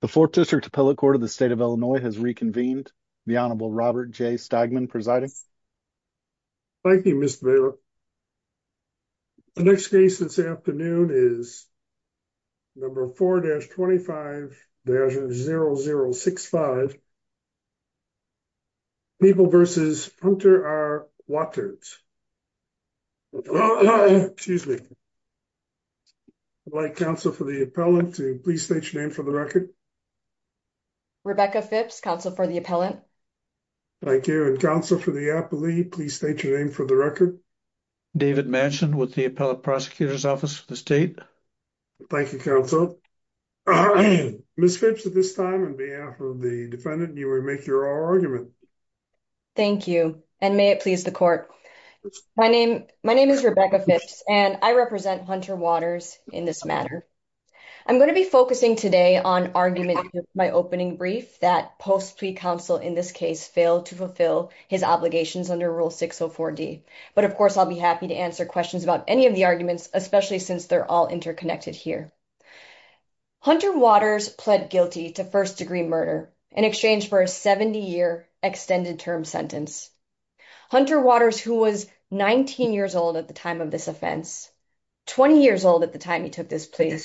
The 4th District Appellate Court of the State of Illinois has reconvened. The Honorable Robert J. Stogman presiding. Thank you, Mr. Baylor. The next case this afternoon is number 4-25-0065 People v. Hunter R. Waters. Excuse me. I'd like counsel for the appellant to please state your name for the record. Rebecca Phipps, counsel for the appellant. Thank you. And counsel for the appellee, please state your name for the record. David Manchin with the Appellate Prosecutor's Office of the State. Thank you, counsel. Ms. Phipps, at this time, on behalf of the defendant, you may make your argument. Thank you, and may it please the court. My name is Rebecca Phipps, and I represent Hunter Waters in this matter. I'm going to be focusing today on arguments in my opening brief that Post-Plea Counsel in this case failed to fulfill his obligations under Rule 604D. But of course, I'll be happy to answer questions about any of the arguments, especially since they're all interconnected here. Hunter Waters pled guilty to first-degree murder in exchange for a 70-year extended term sentence. Hunter Waters, who was 19 years old at the time of this offense, 20 years old at the time he took this plea,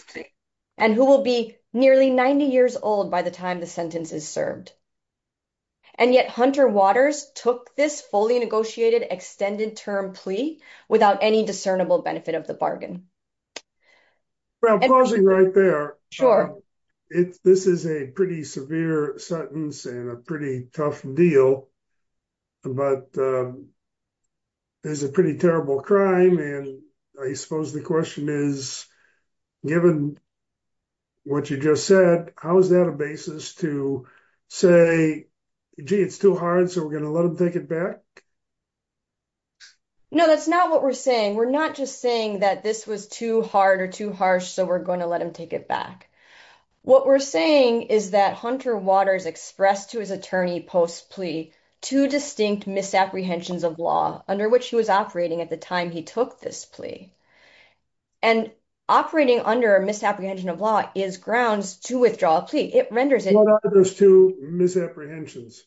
and who will be nearly 90 years old by the time the sentence is served. And yet Hunter Waters took this fully negotiated extended term plea without any discernible benefit of the bargain. I'm pausing right there. This is a pretty severe sentence and a pretty tough deal, but it's a pretty terrible crime. And I suppose the question is, given what you just said, how is that a basis to say, gee, it's too hard, so we're going to let him take it back? No, that's not what we're saying. We're not just saying that this was too hard or too harsh, so we're going to let him take it back. What we're saying is that Hunter Waters expressed to his attorney post-plea two distinct misapprehensions of law under which he was operating at the time he took this plea. And operating under a misapprehension of law is grounds to withdraw a plea. It renders it… What are those two misapprehensions?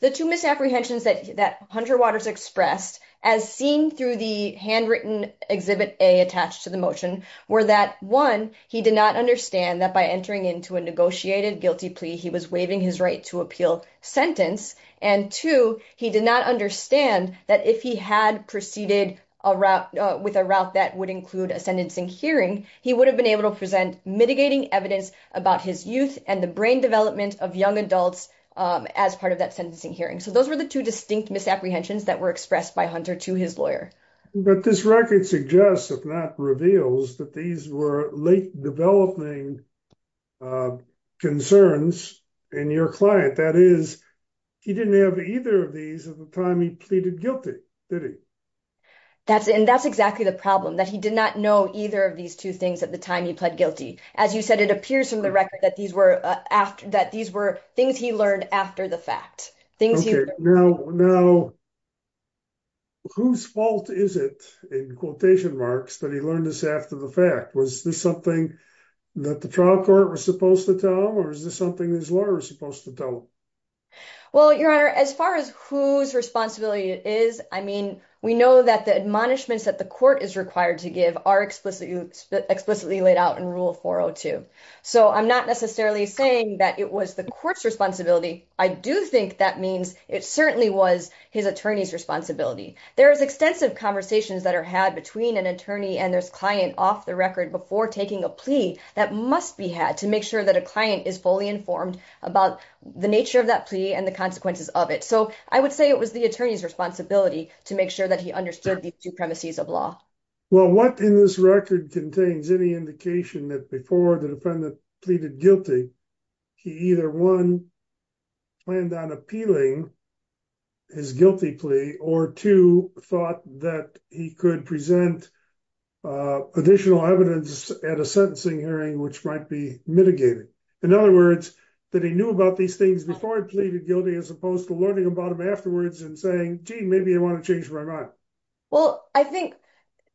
The two misapprehensions that Hunter Waters expressed, as seen through the handwritten Exhibit A attached to the motion, were that, one, he did not understand that by entering into a negotiated guilty plea, he was waiving his right to appeal sentence. And two, he did not understand that if he had proceeded with a route that would include a sentencing hearing, he would have been able to present mitigating evidence about his youth and the brain development of young adults as part of that sentencing hearing. So those were the two distinct misapprehensions that were expressed by Hunter to his lawyer. But this record suggests, if not reveals, that these were late developing concerns in your client. That is, he didn't have either of these at the time he pleaded guilty, did he? That's exactly the problem, that he did not know either of these two things at the time he pled guilty. As you said, it appears from the record that these were things he learned after the fact. Now, whose fault is it, in quotation marks, that he learned this after the fact? Was this something that the trial court was supposed to tell him, or was this something his lawyer was supposed to tell him? Well, Your Honor, as far as whose responsibility it is, I mean, we know that the admonishments that the court is required to give are explicitly laid out in Rule 402. So I'm not necessarily saying that it was the court's responsibility. I do think that means it certainly was his attorney's responsibility. There is extensive conversations that are had between an attorney and his client off the record before taking a plea that must be had to make sure that a client is fully informed about the nature of that plea and the consequences of it. So I would say it was the attorney's responsibility to make sure that he understood these two premises of law. Well, what in this record contains any indication that before the defendant pleaded guilty, he either, one, planned on appealing his guilty plea, or two, thought that he could present additional evidence at a sentencing hearing which might be mitigated? In other words, that he knew about these things before he pleaded guilty as opposed to learning about them afterwards and saying, gee, maybe I want to change my mind. Well, I think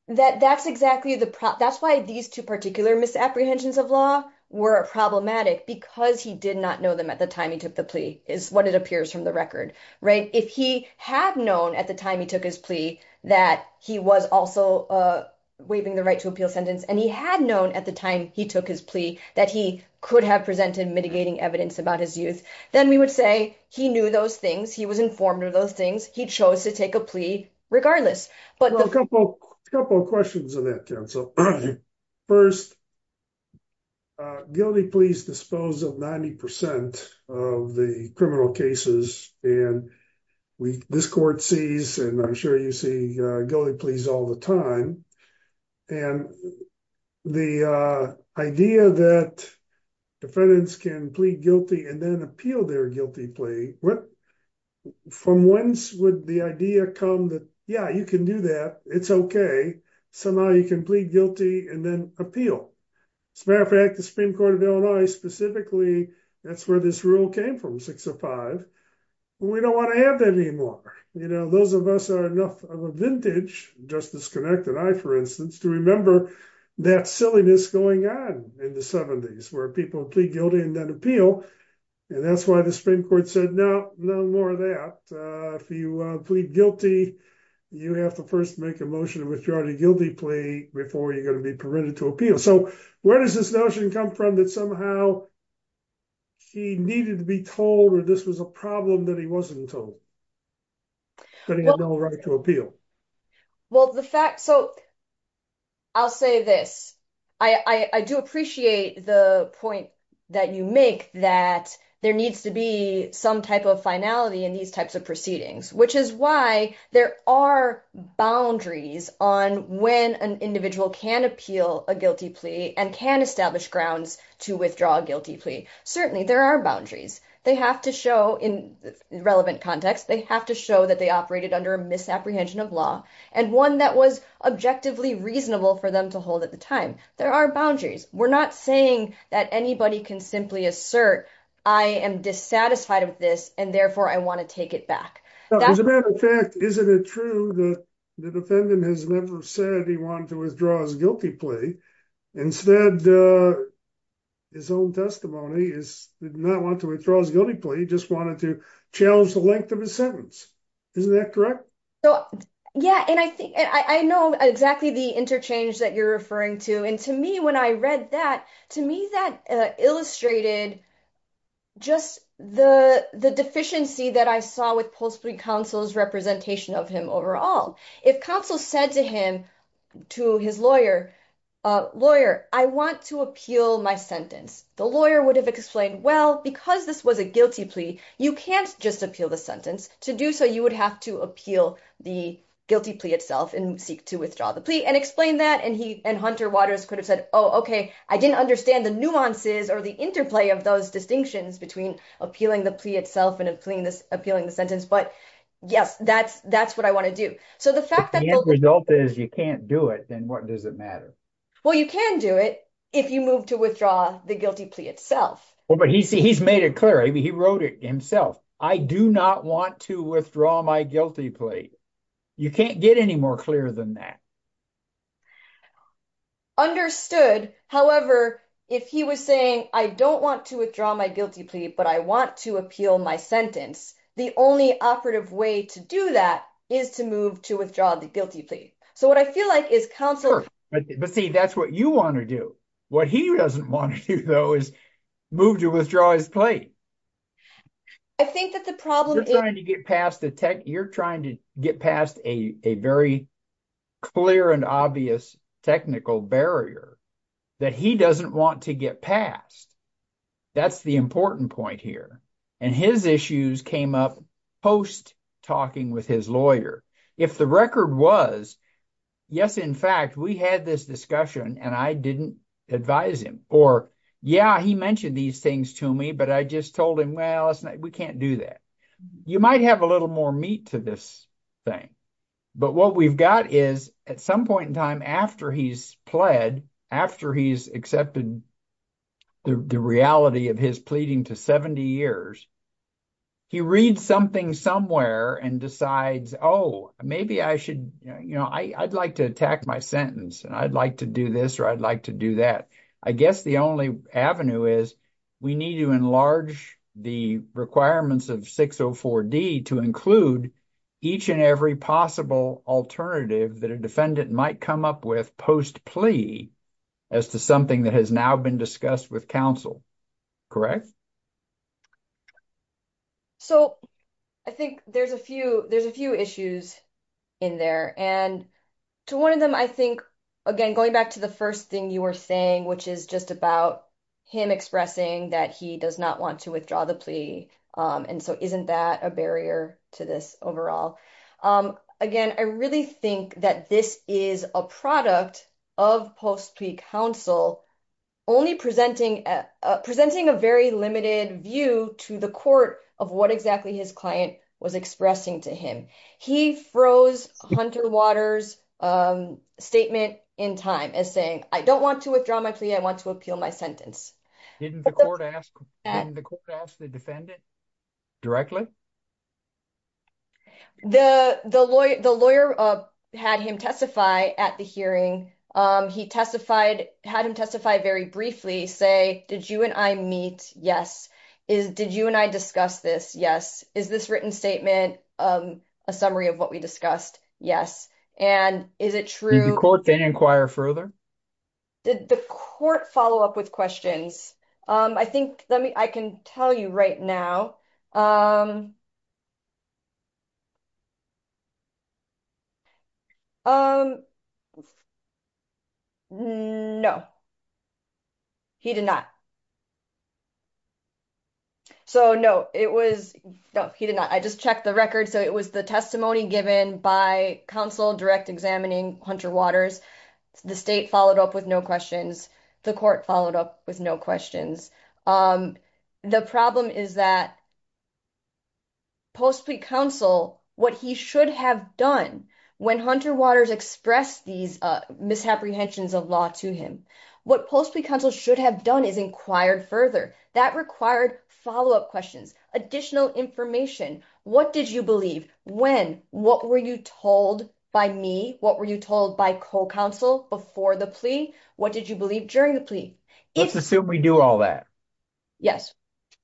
that that's exactly the problem. That's why these two particular misapprehensions of law were problematic because he did not know them at the time he took the plea is what it appears from the record, right? If he had known at the time he took his plea that he was also waiving the right to appeal sentence, and he had known at the time he took his plea that he could have presented mitigating evidence about his youth, then we would say he knew those things. He was informed of those things. He chose to take a plea regardless. A couple of questions on that, counsel. First, guilty pleas dispose of 90% of the criminal cases, and this court sees, and I'm sure you see, guilty pleas all the time. And the idea that defendants can plead guilty and then appeal their guilty plea, from whence would the idea come that, yeah, you can do that, it's okay, somehow you can plead guilty and then appeal? As a matter of fact, the Supreme Court of Illinois specifically, that's where this rule came from, 605. We don't want to have that anymore. You know, those of us are enough of a vintage, Justice Connect and I, for instance, to remember that silliness going on in the 70s where people plead guilty and then appeal. And that's why the Supreme Court said, no, no more of that. If you plead guilty, you have to first make a motion to withdraw the guilty plea before you're going to be permitted to appeal. So where does this notion come from that somehow he needed to be told or this was a problem that he wasn't told? But he had no right to appeal. Well, the fact, so I'll say this, I do appreciate the point that you make that there needs to be some type of finality in these types of proceedings, which is why there are boundaries on when an individual can appeal a guilty plea and can establish grounds to withdraw a guilty plea. Certainly there are boundaries. They have to show in relevant context, they have to show that they operated under a misapprehension of law and one that was objectively reasonable for them to hold at the time. There are boundaries. We're not saying that anybody can simply assert I am dissatisfied with this and therefore I want to take it back. As a matter of fact, isn't it true that the defendant has never said he wanted to withdraw his guilty plea? Instead, his own testimony is that he did not want to withdraw his guilty plea, he just wanted to challenge the length of his sentence. Isn't that correct? Yeah, and I think I know exactly the interchange that you're referring to. And to me, when I read that, to me, that illustrated just the deficiency that I saw with Pulse Plea Counsel's representation of him overall. If counsel said to him, to his lawyer, lawyer, I want to appeal my sentence, the lawyer would have explained, well, because this was a guilty plea, you can't just appeal the sentence. To do so, you would have to appeal the guilty plea itself and seek to withdraw the plea and explain that and Hunter Waters could have said, oh, okay, I didn't understand the nuances or the interplay of those distinctions between appealing the plea itself and appealing the sentence. But yes, that's what I want to do. So the fact that… If the end result is you can't do it, then what does it matter? Well, you can do it if you move to withdraw the guilty plea itself. Well, but he's made it clear. He wrote it himself. I do not want to withdraw my guilty plea. You can't get any more clear than that. Understood. However, if he was saying, I don't want to withdraw my guilty plea, but I want to appeal my sentence, the only operative way to do that is to move to withdraw the guilty plea. So what I feel like is counsel… But see, that's what you want to do. What he doesn't want to do, though, is move to withdraw his plea. I think that the problem is… You're trying to get past a very clear and obvious technical barrier that he doesn't want to get past. That's the important point here. And his issues came up post-talking with his lawyer. If the record was, yes, in fact, we had this discussion and I didn't advise him. Or, yeah, he mentioned these things to me, but I just told him, well, we can't do that. You might have a little more meat to this thing. But what we've got is, at some point in time after he's pled, after he's accepted the reality of his pleading to 70 years, he reads something somewhere and decides, oh, maybe I should… I'd like to attack my sentence and I'd like to do this or I'd like to do that. I guess the only avenue is we need to enlarge the requirements of 604D to include each and every possible alternative that a defendant might come up with post-plea as to something that has now been discussed with counsel. Correct? So I think there's a few issues in there. And to one of them, I think, again, going back to the first thing you were saying, which is just about him expressing that he does not want to withdraw the plea. And so isn't that a barrier to this overall? Again, I really think that this is a product of post-plea counsel only presenting a very limited view to the court of what exactly his client was expressing to him. He froze Hunter Waters' statement in time as saying, I don't want to withdraw my plea. I want to appeal my sentence. Didn't the court ask the defendant directly? The lawyer had him testify at the hearing. He testified, had him testify very briefly, say, did you and I meet? Yes. Did you and I discuss this? Yes. Is this written statement a summary of what we discussed? Yes. And is it true… Did the court then inquire further? Did the court follow up with questions? I think I can tell you right now. No. He did not. So, no, it was… No, he did not. I just checked the record. So it was the testimony given by counsel direct examining Hunter Waters. The state followed up with no questions. The court followed up with no questions. The problem is that post-plea counsel, what he should have done when Hunter Waters expressed these misapprehensions of law to him, what post-plea counsel should have done is inquired further. That required follow-up questions, additional information. What did you believe when? What were you told by me? What were you told by co-counsel before the plea? What did you believe during the plea? Let's assume we do all that. Yes.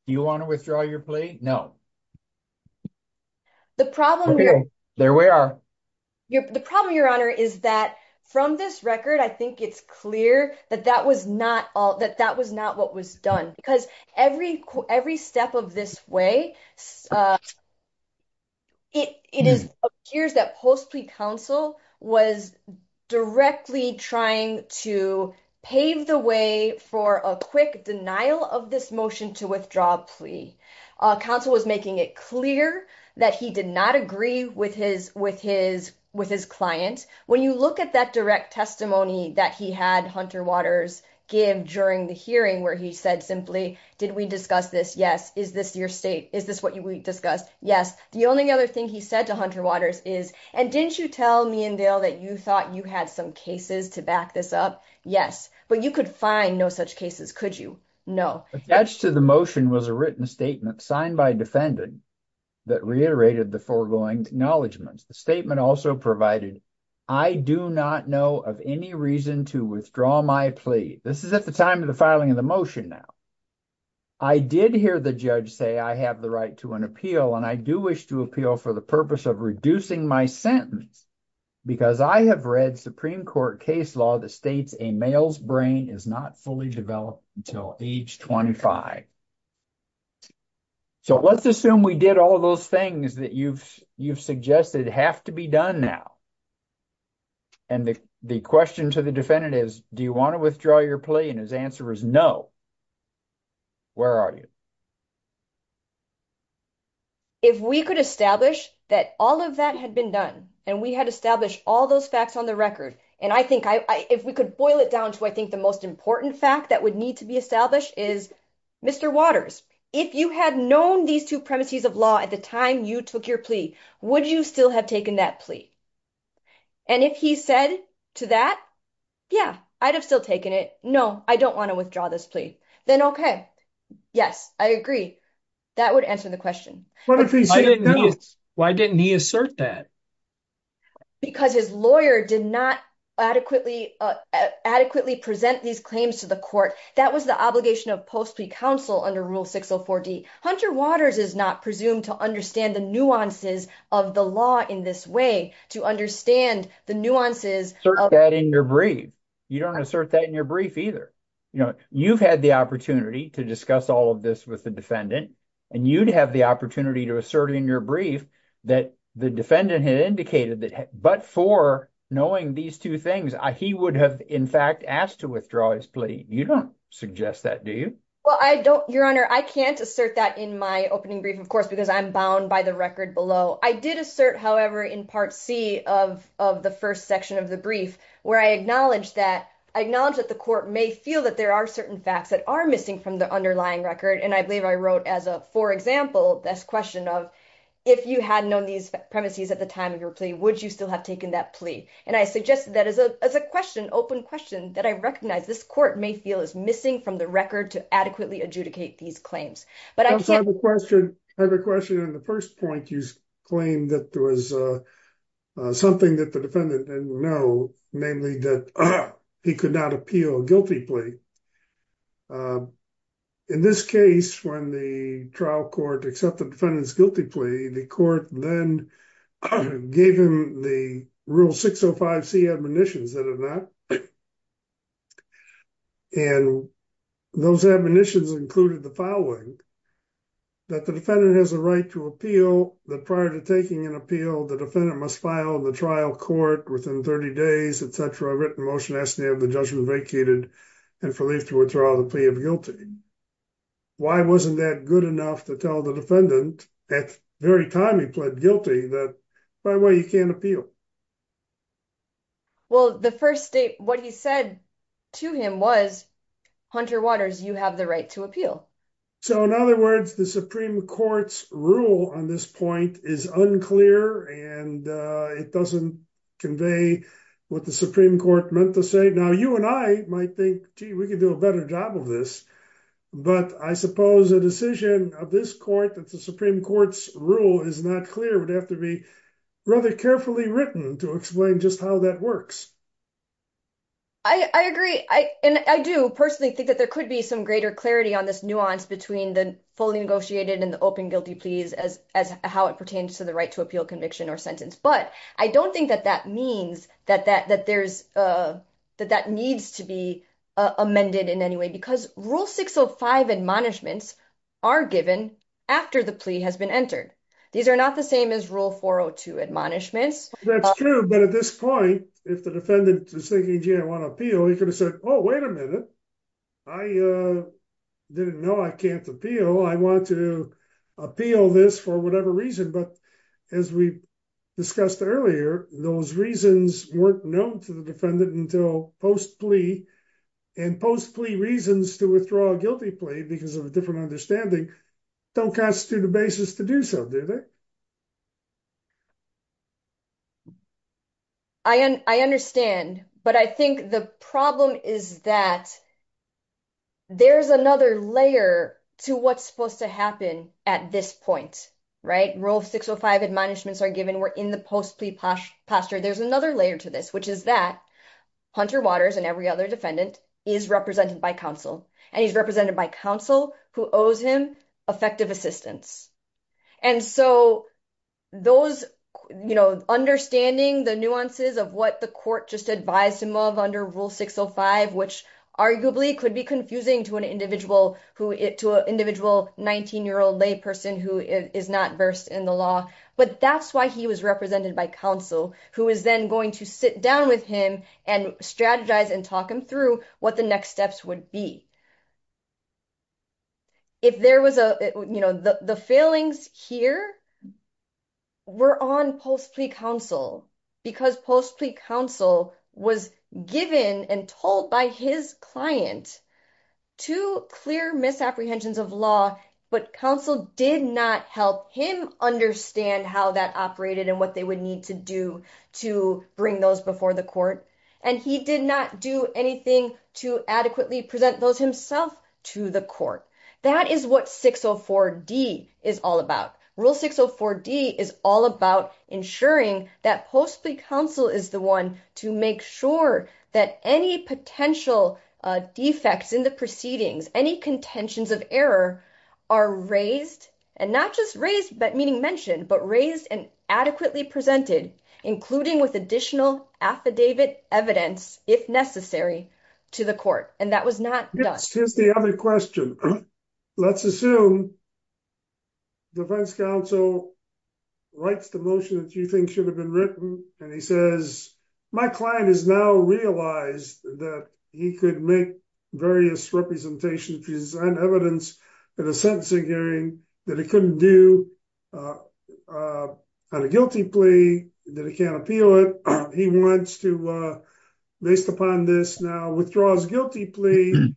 Do you want to withdraw your plea? No. The problem… There we are. The problem, Your Honor, is that from this record, I think it's clear that that was not what was done. Because every step of this way, it appears that post-plea counsel was directly trying to pave the way for a quick denial of this motion to withdraw a plea. Counsel was making it clear that he did not agree with his client. When you look at that direct testimony that he had Hunter Waters give during the hearing where he said simply, did we discuss this? Yes. Is this your state? Is this what we discussed? Yes. The only other thing he said to Hunter Waters is, and didn't you tell me and Dale that you thought you had some cases to back this up? Yes. But you could find no such cases, could you? No. Attached to the motion was a written statement signed by a defendant that reiterated the foregoing acknowledgements. The statement also provided, I do not know of any reason to withdraw my plea. This is at the time of the filing of the motion now. I did hear the judge say I have the right to an appeal, and I do wish to appeal for the purpose of reducing my sentence because I have read Supreme Court case law that states a male's brain is not fully developed until age 25. So let's assume we did all of those things that you've suggested have to be done now. And the question to the defendant is, do you want to withdraw your plea? And his answer is no. Where are you? If we could establish that all of that had been done and we had established all those facts on the record. And I think if we could boil it down to, I think the most important fact that would need to be established is Mr. Waters. If you had known these two premises of law at the time you took your plea, would you still have taken that plea? And if he said to that, yeah, I'd have still taken it. No, I don't want to withdraw this plea. Then OK. Yes, I agree. That would answer the question. Why didn't he assert that? Because his lawyer did not adequately adequately present these claims to the court. That was the obligation of post plea counsel under Rule 604D. Hunter Waters is not presumed to understand the nuances of the law in this way to understand the nuances of that in your brief. You don't assert that in your brief either. You know, you've had the opportunity to discuss all of this with the defendant and you'd have the opportunity to assert in your brief that the defendant had indicated that. But for knowing these two things, he would have, in fact, asked to withdraw his plea. You don't suggest that, do you? Well, I don't. Your Honor, I can't assert that in my opening brief, of course, because I'm bound by the record below. I did assert, however, in Part C of of the first section of the brief where I acknowledge that I acknowledge that the court may feel that there are certain facts that are missing from the underlying record. And I believe I wrote as a for example, this question of if you had known these premises at the time of your plea, would you still have taken that plea? And I suggested that as a as a question, open question that I recognize this court may feel is missing from the record to adequately adjudicate these claims. But I have a question. I have a question. In the first point, you claim that there was something that the defendant didn't know, namely that he could not appeal a guilty plea. In this case, when the trial court accepted the defendant's guilty plea, the court then gave him the Rule 605C admonitions that are not. And those admonitions included the following. That the defendant has a right to appeal the prior to taking an appeal, the defendant must file the trial court within 30 days, etc. A written motion as to have the judgment vacated and for leave to withdraw the plea of guilty. Why wasn't that good enough to tell the defendant at the very time he pled guilty that by the way, you can't appeal? Well, the first state what he said to him was Hunter Waters, you have the right to appeal. So, in other words, the Supreme Court's rule on this point is unclear and it doesn't convey what the Supreme Court meant to say. Now, you and I might think, gee, we could do a better job of this. But I suppose a decision of this court that the Supreme Court's rule is not clear would have to be rather carefully written to explain just how that works. I agree. I do personally think that there could be some greater clarity on this nuance between the fully negotiated and the open guilty pleas as how it pertains to the right to appeal conviction or sentence. But I don't think that that means that that needs to be amended in any way because rule 605 admonishments are given after the plea has been entered. These are not the same as rule 402 admonishments. That's true. But at this point, if the defendant is thinking, gee, I want to appeal, he could have said, oh, wait a minute. I didn't know I can't appeal. I want to appeal this for whatever reason. But as we discussed earlier, those reasons weren't known to the defendant until post-plea. And post-plea reasons to withdraw a guilty plea because of a different understanding don't constitute a basis to do so, do they? I understand. But I think the problem is that there's another layer to what's supposed to happen at this point. Right. Rule 605 admonishments are given. We're in the post-plea posture. There's another layer to this, which is that Hunter Waters and every other defendant is represented by counsel and he's represented by counsel who owes him effective assistance. And so those, you know, understanding the nuances of what the court just advised him of under rule 605, which arguably could be confusing to an individual, to an individual 19-year-old lay person who is not versed in the law. But that's why he was represented by counsel, who is then going to sit down with him and strategize and talk him through what the next steps would be. If there was a, you know, the failings here were on post-plea counsel because post-plea counsel was given and told by his client to clear misapprehensions of law, but counsel did not help him understand how that operated and what they would need to do to bring those before the court. And he did not do anything to adequately present those himself to the court. That is what 604D is all about. Rule 604D is all about ensuring that post-plea counsel is the one to make sure that any potential defects in the proceedings, any contentions of error are raised and not just raised, but meaning mentioned, but raised and adequately presented, including with additional affidavit evidence, if necessary, to the court. And that was not done. Here's the other question. Let's assume defense counsel writes the motion that you think should have been written. And he says, my client has now realized that he could make various representations and evidence in a sentencing hearing that he couldn't do on a guilty plea that he can't appeal it. He wants to, based upon this now, withdraw his guilty plea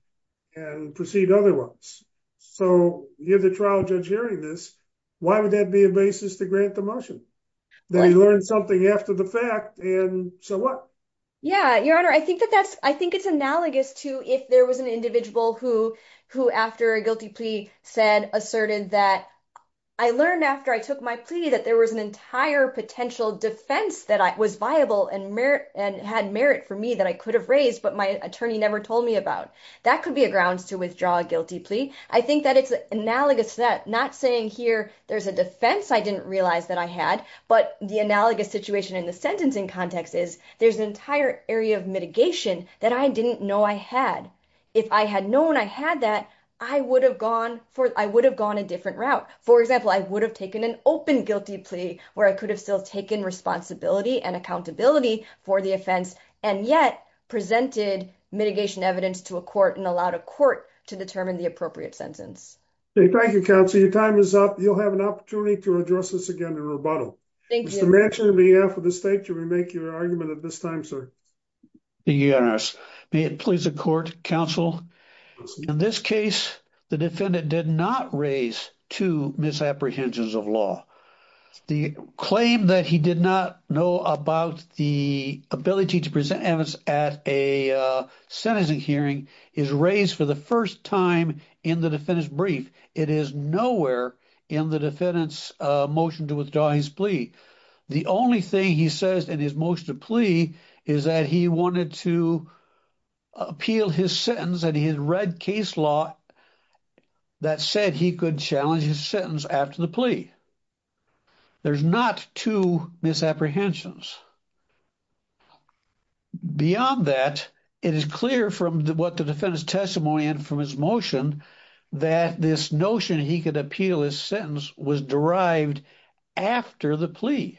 and proceed otherwise. So you have the trial judge hearing this. Why would that be a basis to grant the motion? They learned something after the fact, and so what? Yeah, Your Honor, I think it's analogous to if there was an individual who, after a guilty plea, said, asserted that I learned after I took my plea that there was an entire potential defense that was viable and had merit for me that I could have raised, but my attorney never told me about. That could be a grounds to withdraw a guilty plea. I think that it's analogous to that, not saying here there's a defense I didn't realize that I had, but the analogous situation in the sentencing context is there's an entire area of mitigation that I didn't know I had. If I had known I had that, I would have gone a different route. For example, I would have taken an open guilty plea where I could have still taken responsibility and accountability for the offense, and yet presented mitigation evidence to a court and allowed a court to determine the appropriate sentence. Thank you, counsel. Your time is up. You'll have an opportunity to address this again in rebuttal. Mr. Manchin, on behalf of the state, can we make your argument at this time, sir? May it please the court, counsel. In this case, the defendant did not raise two misapprehensions of law. The claim that he did not know about the ability to present evidence at a sentencing hearing is raised for the first time in the defendant's brief. It is nowhere in the defendant's motion to withdraw his plea. The only thing he says in his motion to plea is that he wanted to appeal his sentence and he had read case law that said he could challenge his sentence after the plea. There's not two misapprehensions. Beyond that, it is clear from what the defendant's testimony and from his motion that this notion he could appeal his sentence was derived after the plea.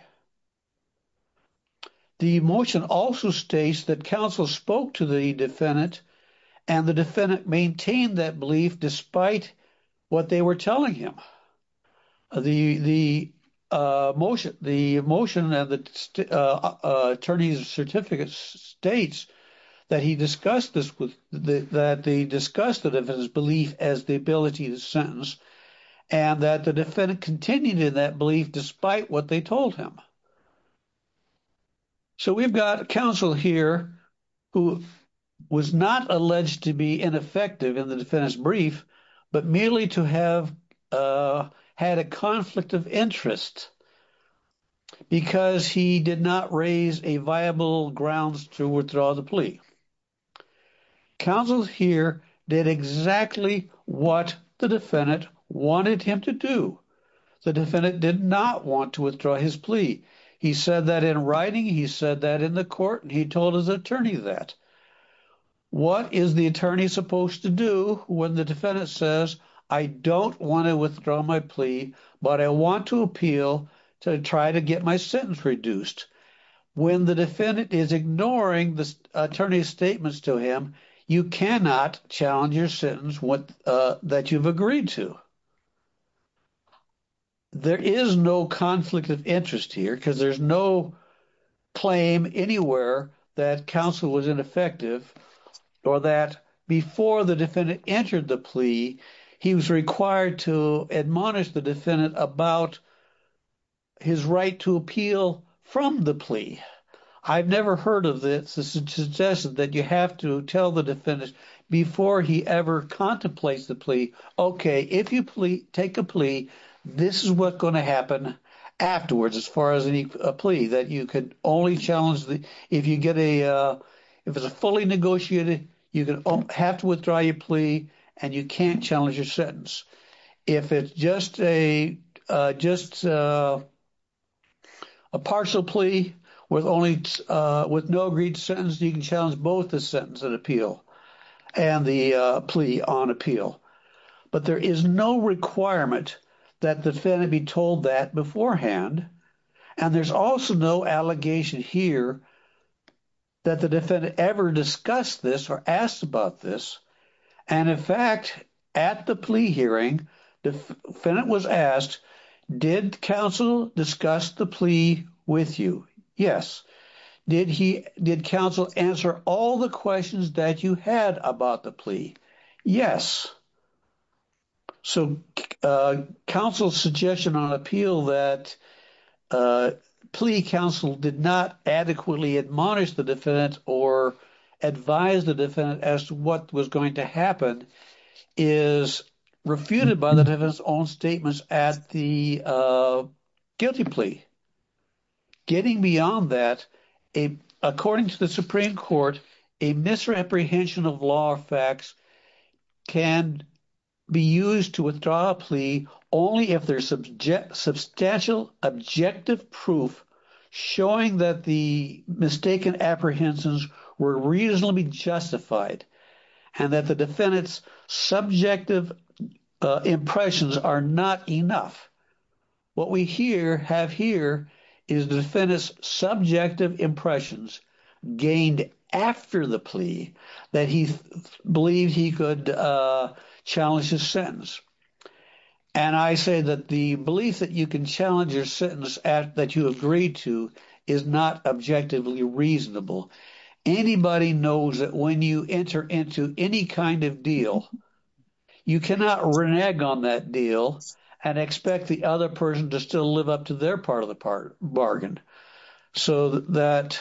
The motion also states that counsel spoke to the defendant and the defendant maintained that belief despite what they were telling him. The motion and the attorney's certificate states that he discussed the defendant's belief as the ability to sentence and that the defendant continued in that belief despite what they told him. So we've got counsel here who was not alleged to be ineffective in the defendant's brief but merely to have had a conflict of interest because he did not raise a viable grounds to withdraw the plea. Counsel here did exactly what the defendant wanted him to do. The defendant did not want to withdraw his plea. He said that in writing, he said that in the court, and he told his attorney that. What is the attorney supposed to do when the defendant says, I don't want to withdraw my plea, but I want to appeal to try to get my sentence reduced? When the defendant is ignoring the attorney's statements to him, you cannot challenge your sentence that you've agreed to. There is no conflict of interest here because there's no claim anywhere that counsel was ineffective or that before the defendant entered the plea, he was required to admonish the defendant about his right to appeal from the plea. I've never heard of this suggestion that you have to tell the defendant before he ever contemplates the plea. OK, if you take a plea, this is what's going to happen afterwards as far as a plea that you could only challenge. If you get a if it's a fully negotiated, you have to withdraw your plea and you can't challenge your sentence. If it's just a just a partial plea with only with no agreed sentence, you can challenge both the sentence and appeal and the plea on appeal. But there is no requirement that the defendant be told that beforehand. And there's also no allegation here that the defendant ever discussed this or asked about this. And in fact, at the plea hearing, the defendant was asked, did counsel discuss the plea with you? Yes. Did he did counsel answer all the questions that you had about the plea? Yes. So counsel's suggestion on appeal that plea counsel did not adequately admonish the defendant or advise the defendant as to what was going to happen is refuted by the defense on statements at the guilty plea. Getting beyond that, according to the Supreme Court, a misreprehension of law or facts can be used to withdraw a plea only if they're subject substantial objective proof showing that the mistaken apprehensions were reasonably justified and that the defendant's subjective impressions are not enough. What we here have here is the defendant's subjective impressions gained after the plea that he believed he could challenge his sentence. And I say that the belief that you can challenge your sentence that you agreed to is not objectively reasonable. Anybody knows that when you enter into any kind of deal, you cannot run egg on that deal and expect the other person to still live up to their part of the bargain. So that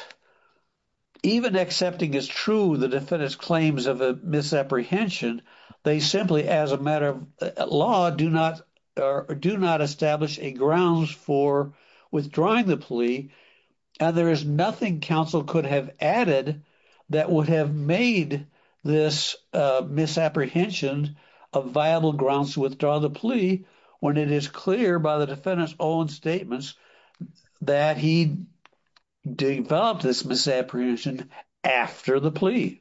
even accepting is true, the defendant's claims of a misapprehension, they simply, as a matter of law, do not or do not establish a grounds for withdrawing the plea. And there is nothing counsel could have added that would have made this misapprehension of viable grounds to withdraw the plea when it is clear by the defendant's own statements that he developed this misapprehension after the plea.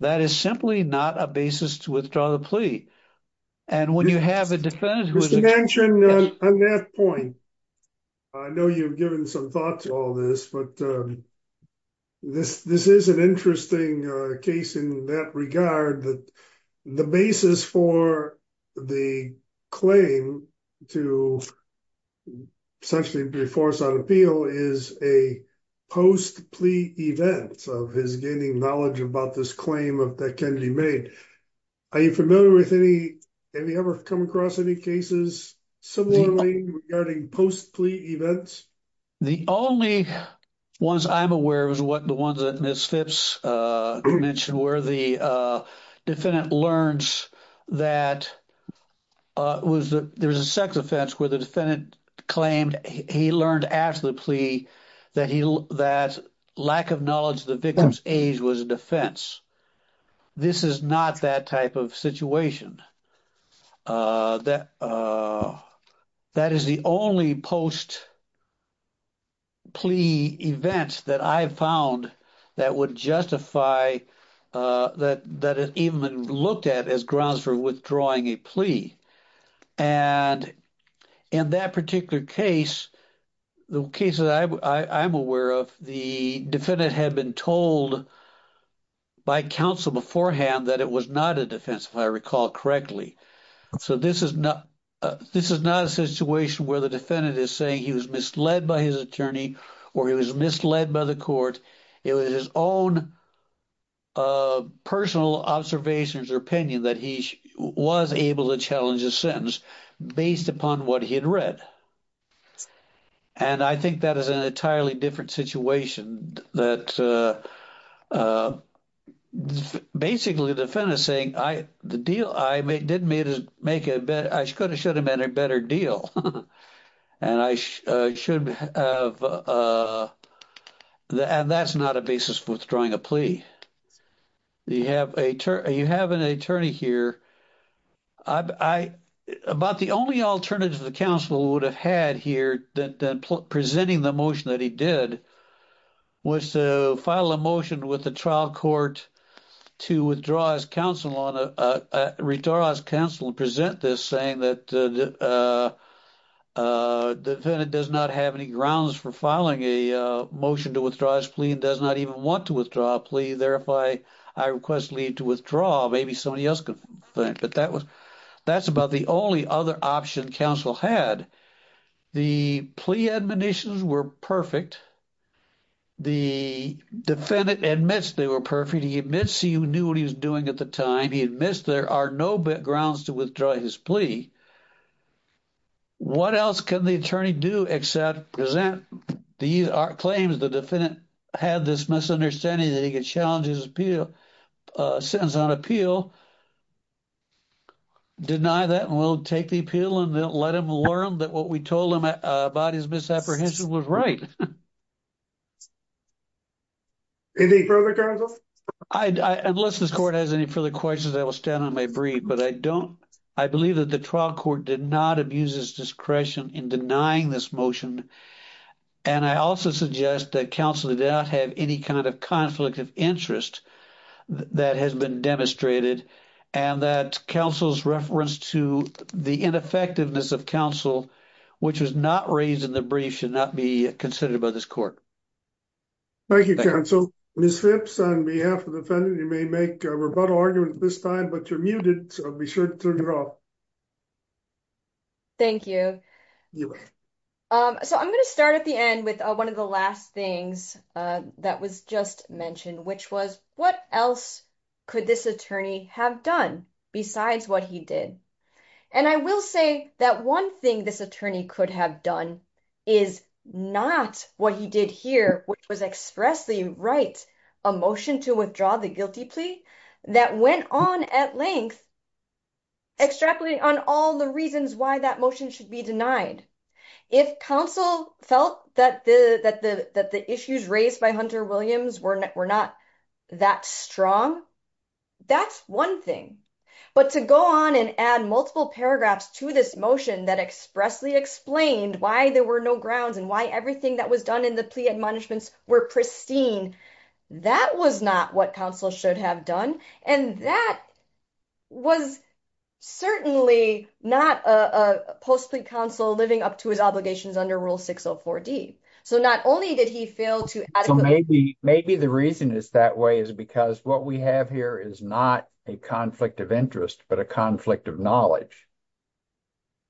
That is simply not a basis to withdraw the plea. And when you have a defendant... Mr. Genshin, on that point, I know you've given some thought to all this, but this is an interesting case in that regard that the basis for the claim to essentially be forced on appeal is a post plea event of his gaining knowledge about this claim that Kennedy made. Are you familiar with any, have you ever come across any cases similarly regarding post plea events? The only ones I'm aware of is the ones that Ms. Phipps mentioned where the defendant learns that there was a sex offense where the defendant claimed he learned after the plea that lack of knowledge of the victim's age was a defense. This is not that type of situation. That is the only post plea event that I've found that would justify that it even looked at as grounds for withdrawing a plea. And in that particular case, the case that I'm aware of, the defendant had been told by counsel beforehand that it was not a defense, if I recall correctly. So this is not a situation where the defendant is saying he was misled by his attorney or he was misled by the court. It was his own personal observations or opinion that he was able to challenge a sentence based upon what he had read. And I think that is an entirely different situation that basically the defendant is saying I, the deal I made didn't make a better, I should have made a better deal. And I should have, and that's not a basis for withdrawing a plea. You have an attorney here. About the only alternative the counsel would have had here than presenting the motion that he did was to file a motion with the trial court to withdraw his counsel and present this saying that the defendant does not have any grounds for filing a motion to withdraw his plea and does not even want to withdraw a plea. Therefore, I request leave to withdraw. Maybe somebody else can, but that was, that's about the only other option counsel had. The plea admonitions were perfect. The defendant admits they were perfect. He admits he knew what he was doing at the time. He admits there are no grounds to withdraw his plea. What else can the attorney do except present the claims the defendant had this misunderstanding that he could challenge his appeal, sentence on appeal, deny that and we'll take the appeal and let him learn that what we told him about his misapprehension was right. Thank you. Any further counsel? Unless this court has any further questions, I will stand on my brief, but I don't, I believe that the trial court did not abuse his discretion in denying this motion. And I also suggest that counsel did not have any kind of conflict of interest that has been demonstrated and that counsel's reference to the ineffectiveness of counsel, which was not raised in the brief should not be considered by this court. Thank you, counsel. Ms. Phipps, on behalf of the defendant, you may make a rebuttal argument at this time, but you're muted, so be sure to turn it off. Thank you. So I'm going to start at the end with one of the last things that was just mentioned, which was what else could this attorney have done besides what he did. And I will say that one thing this attorney could have done is not what he did here, which was expressly write a motion to withdraw the guilty plea that went on at length, extrapolating on all the reasons why that motion should be denied. If counsel felt that the issues raised by Hunter Williams were not that strong, that's one thing, but to go on and add multiple paragraphs to this motion that expressly explained why there were no grounds and why everything that was done in the plea admonishments were pristine, that was not what counsel should have done, and that was certainly not a post-plea counsel living up to his obligations under Rule 604D. So not only did he fail to adequately… Maybe the reason it's that way is because what we have here is not a conflict of interest, but a conflict of knowledge.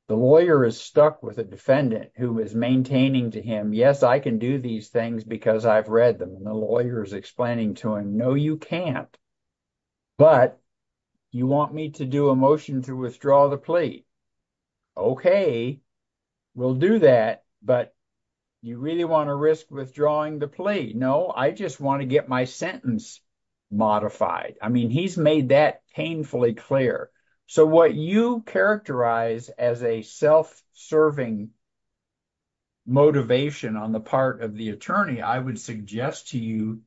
The lawyer is stuck with a defendant who is maintaining to him, yes, I can do these things because I've read them, and the lawyer is explaining to him, no, you can't, but you want me to do a motion to withdraw the plea. Okay, we'll do that, but you really want to risk withdrawing the plea. No, I just want to get my sentence modified. I mean, he's made that painfully clear. So what you characterize as a self-serving motivation on the part of the attorney, I would suggest to you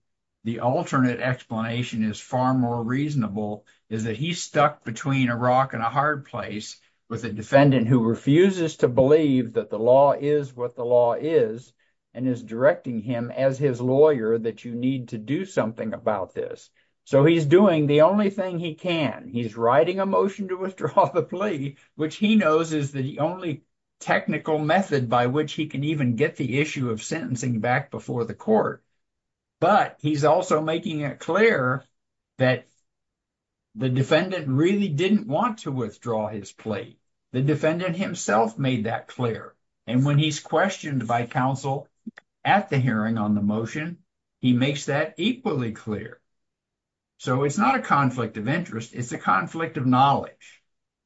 the alternate explanation is far more reasonable, is that he's stuck between a rock and a hard place with a defendant who refuses to believe that the law is what the law is and is directing him as his lawyer that you need to do something about this. So he's doing the only thing he can. He's writing a motion to withdraw the plea, which he knows is the only technical method by which he can even get the issue of sentencing back before the court. But he's also making it clear that the defendant really didn't want to withdraw his plea. The defendant himself made that clear. And when he's questioned by counsel at the hearing on the motion, he makes that equally clear. So it's not a conflict of interest. It's a conflict of knowledge.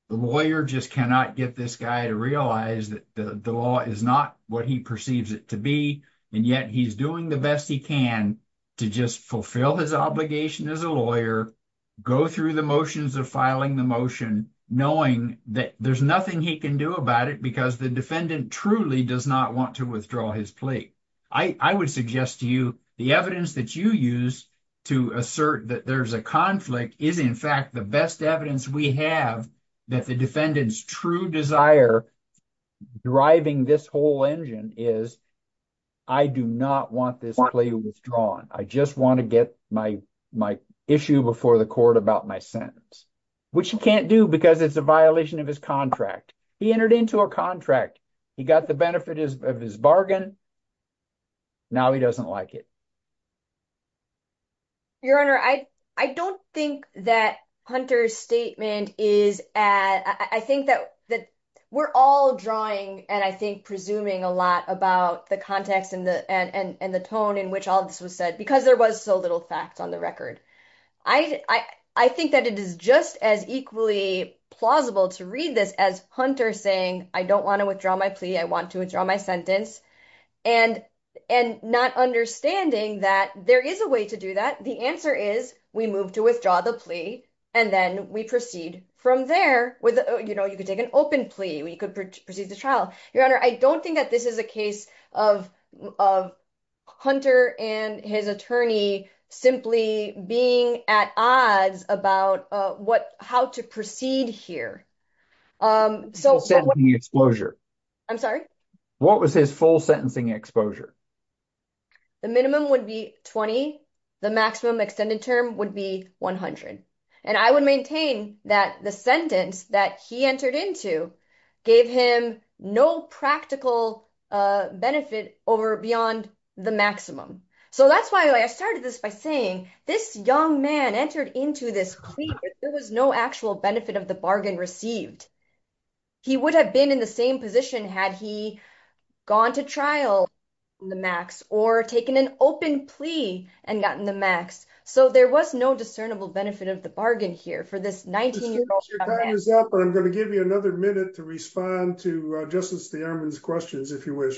The lawyer just cannot get this guy to realize that the law is not what he perceives it to be. And yet he's doing the best he can to just fulfill his obligation as a lawyer, go through the motions of filing the motion, knowing that there's nothing he can do about it because the defendant truly does not want to withdraw his plea. I would suggest to you the evidence that you use to assert that there's a conflict is, in fact, the best evidence we have that the defendant's true desire driving this whole engine is I do not want this plea withdrawn. I just want to get my issue before the court about my sentence, which he can't do because it's a violation of his contract. He entered into a contract. He got the benefit of his bargain. Now he doesn't like it. Your Honor, I don't think that Hunter's statement is. I think that we're all drawing and I think presuming a lot about the context and the tone in which all this was said because there was so little facts on the record. I think that it is just as equally plausible to read this as Hunter saying, I don't want to withdraw my plea. I want to withdraw my sentence and and not understanding that there is a way to do that. The answer is we move to withdraw the plea and then we proceed from there with, you know, you could take an open plea. We could proceed the trial. Your Honor, I don't think that this is a case of of Hunter and his attorney simply being at odds about what how to proceed here. So the exposure. I'm sorry. What was his full sentencing exposure? The minimum would be 20. The maximum extended term would be 100. And I would maintain that the sentence that he entered into gave him no practical benefit over beyond the maximum. So that's why I started this by saying this young man entered into this plea. There was no actual benefit of the bargain received. He would have been in the same position had he gone to trial on the max or taken an open plea and gotten the max. So there was no discernible benefit of the bargain here for this 19-year-old young man. Your time is up. I'm going to give you another minute to respond to Justice Thierman's questions, if you wish.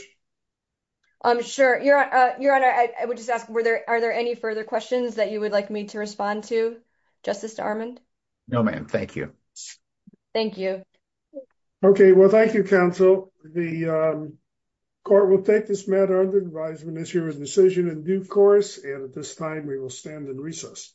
I'm sure. Your Honor, I would just ask, are there any further questions that you would like me to respond to, Justice Thierman? No, ma'am. Thank you. Thank you. Okay. Well, thank you, counsel. The court will take this matter under advisement as your decision in due course. And at this time, we will stand in recess.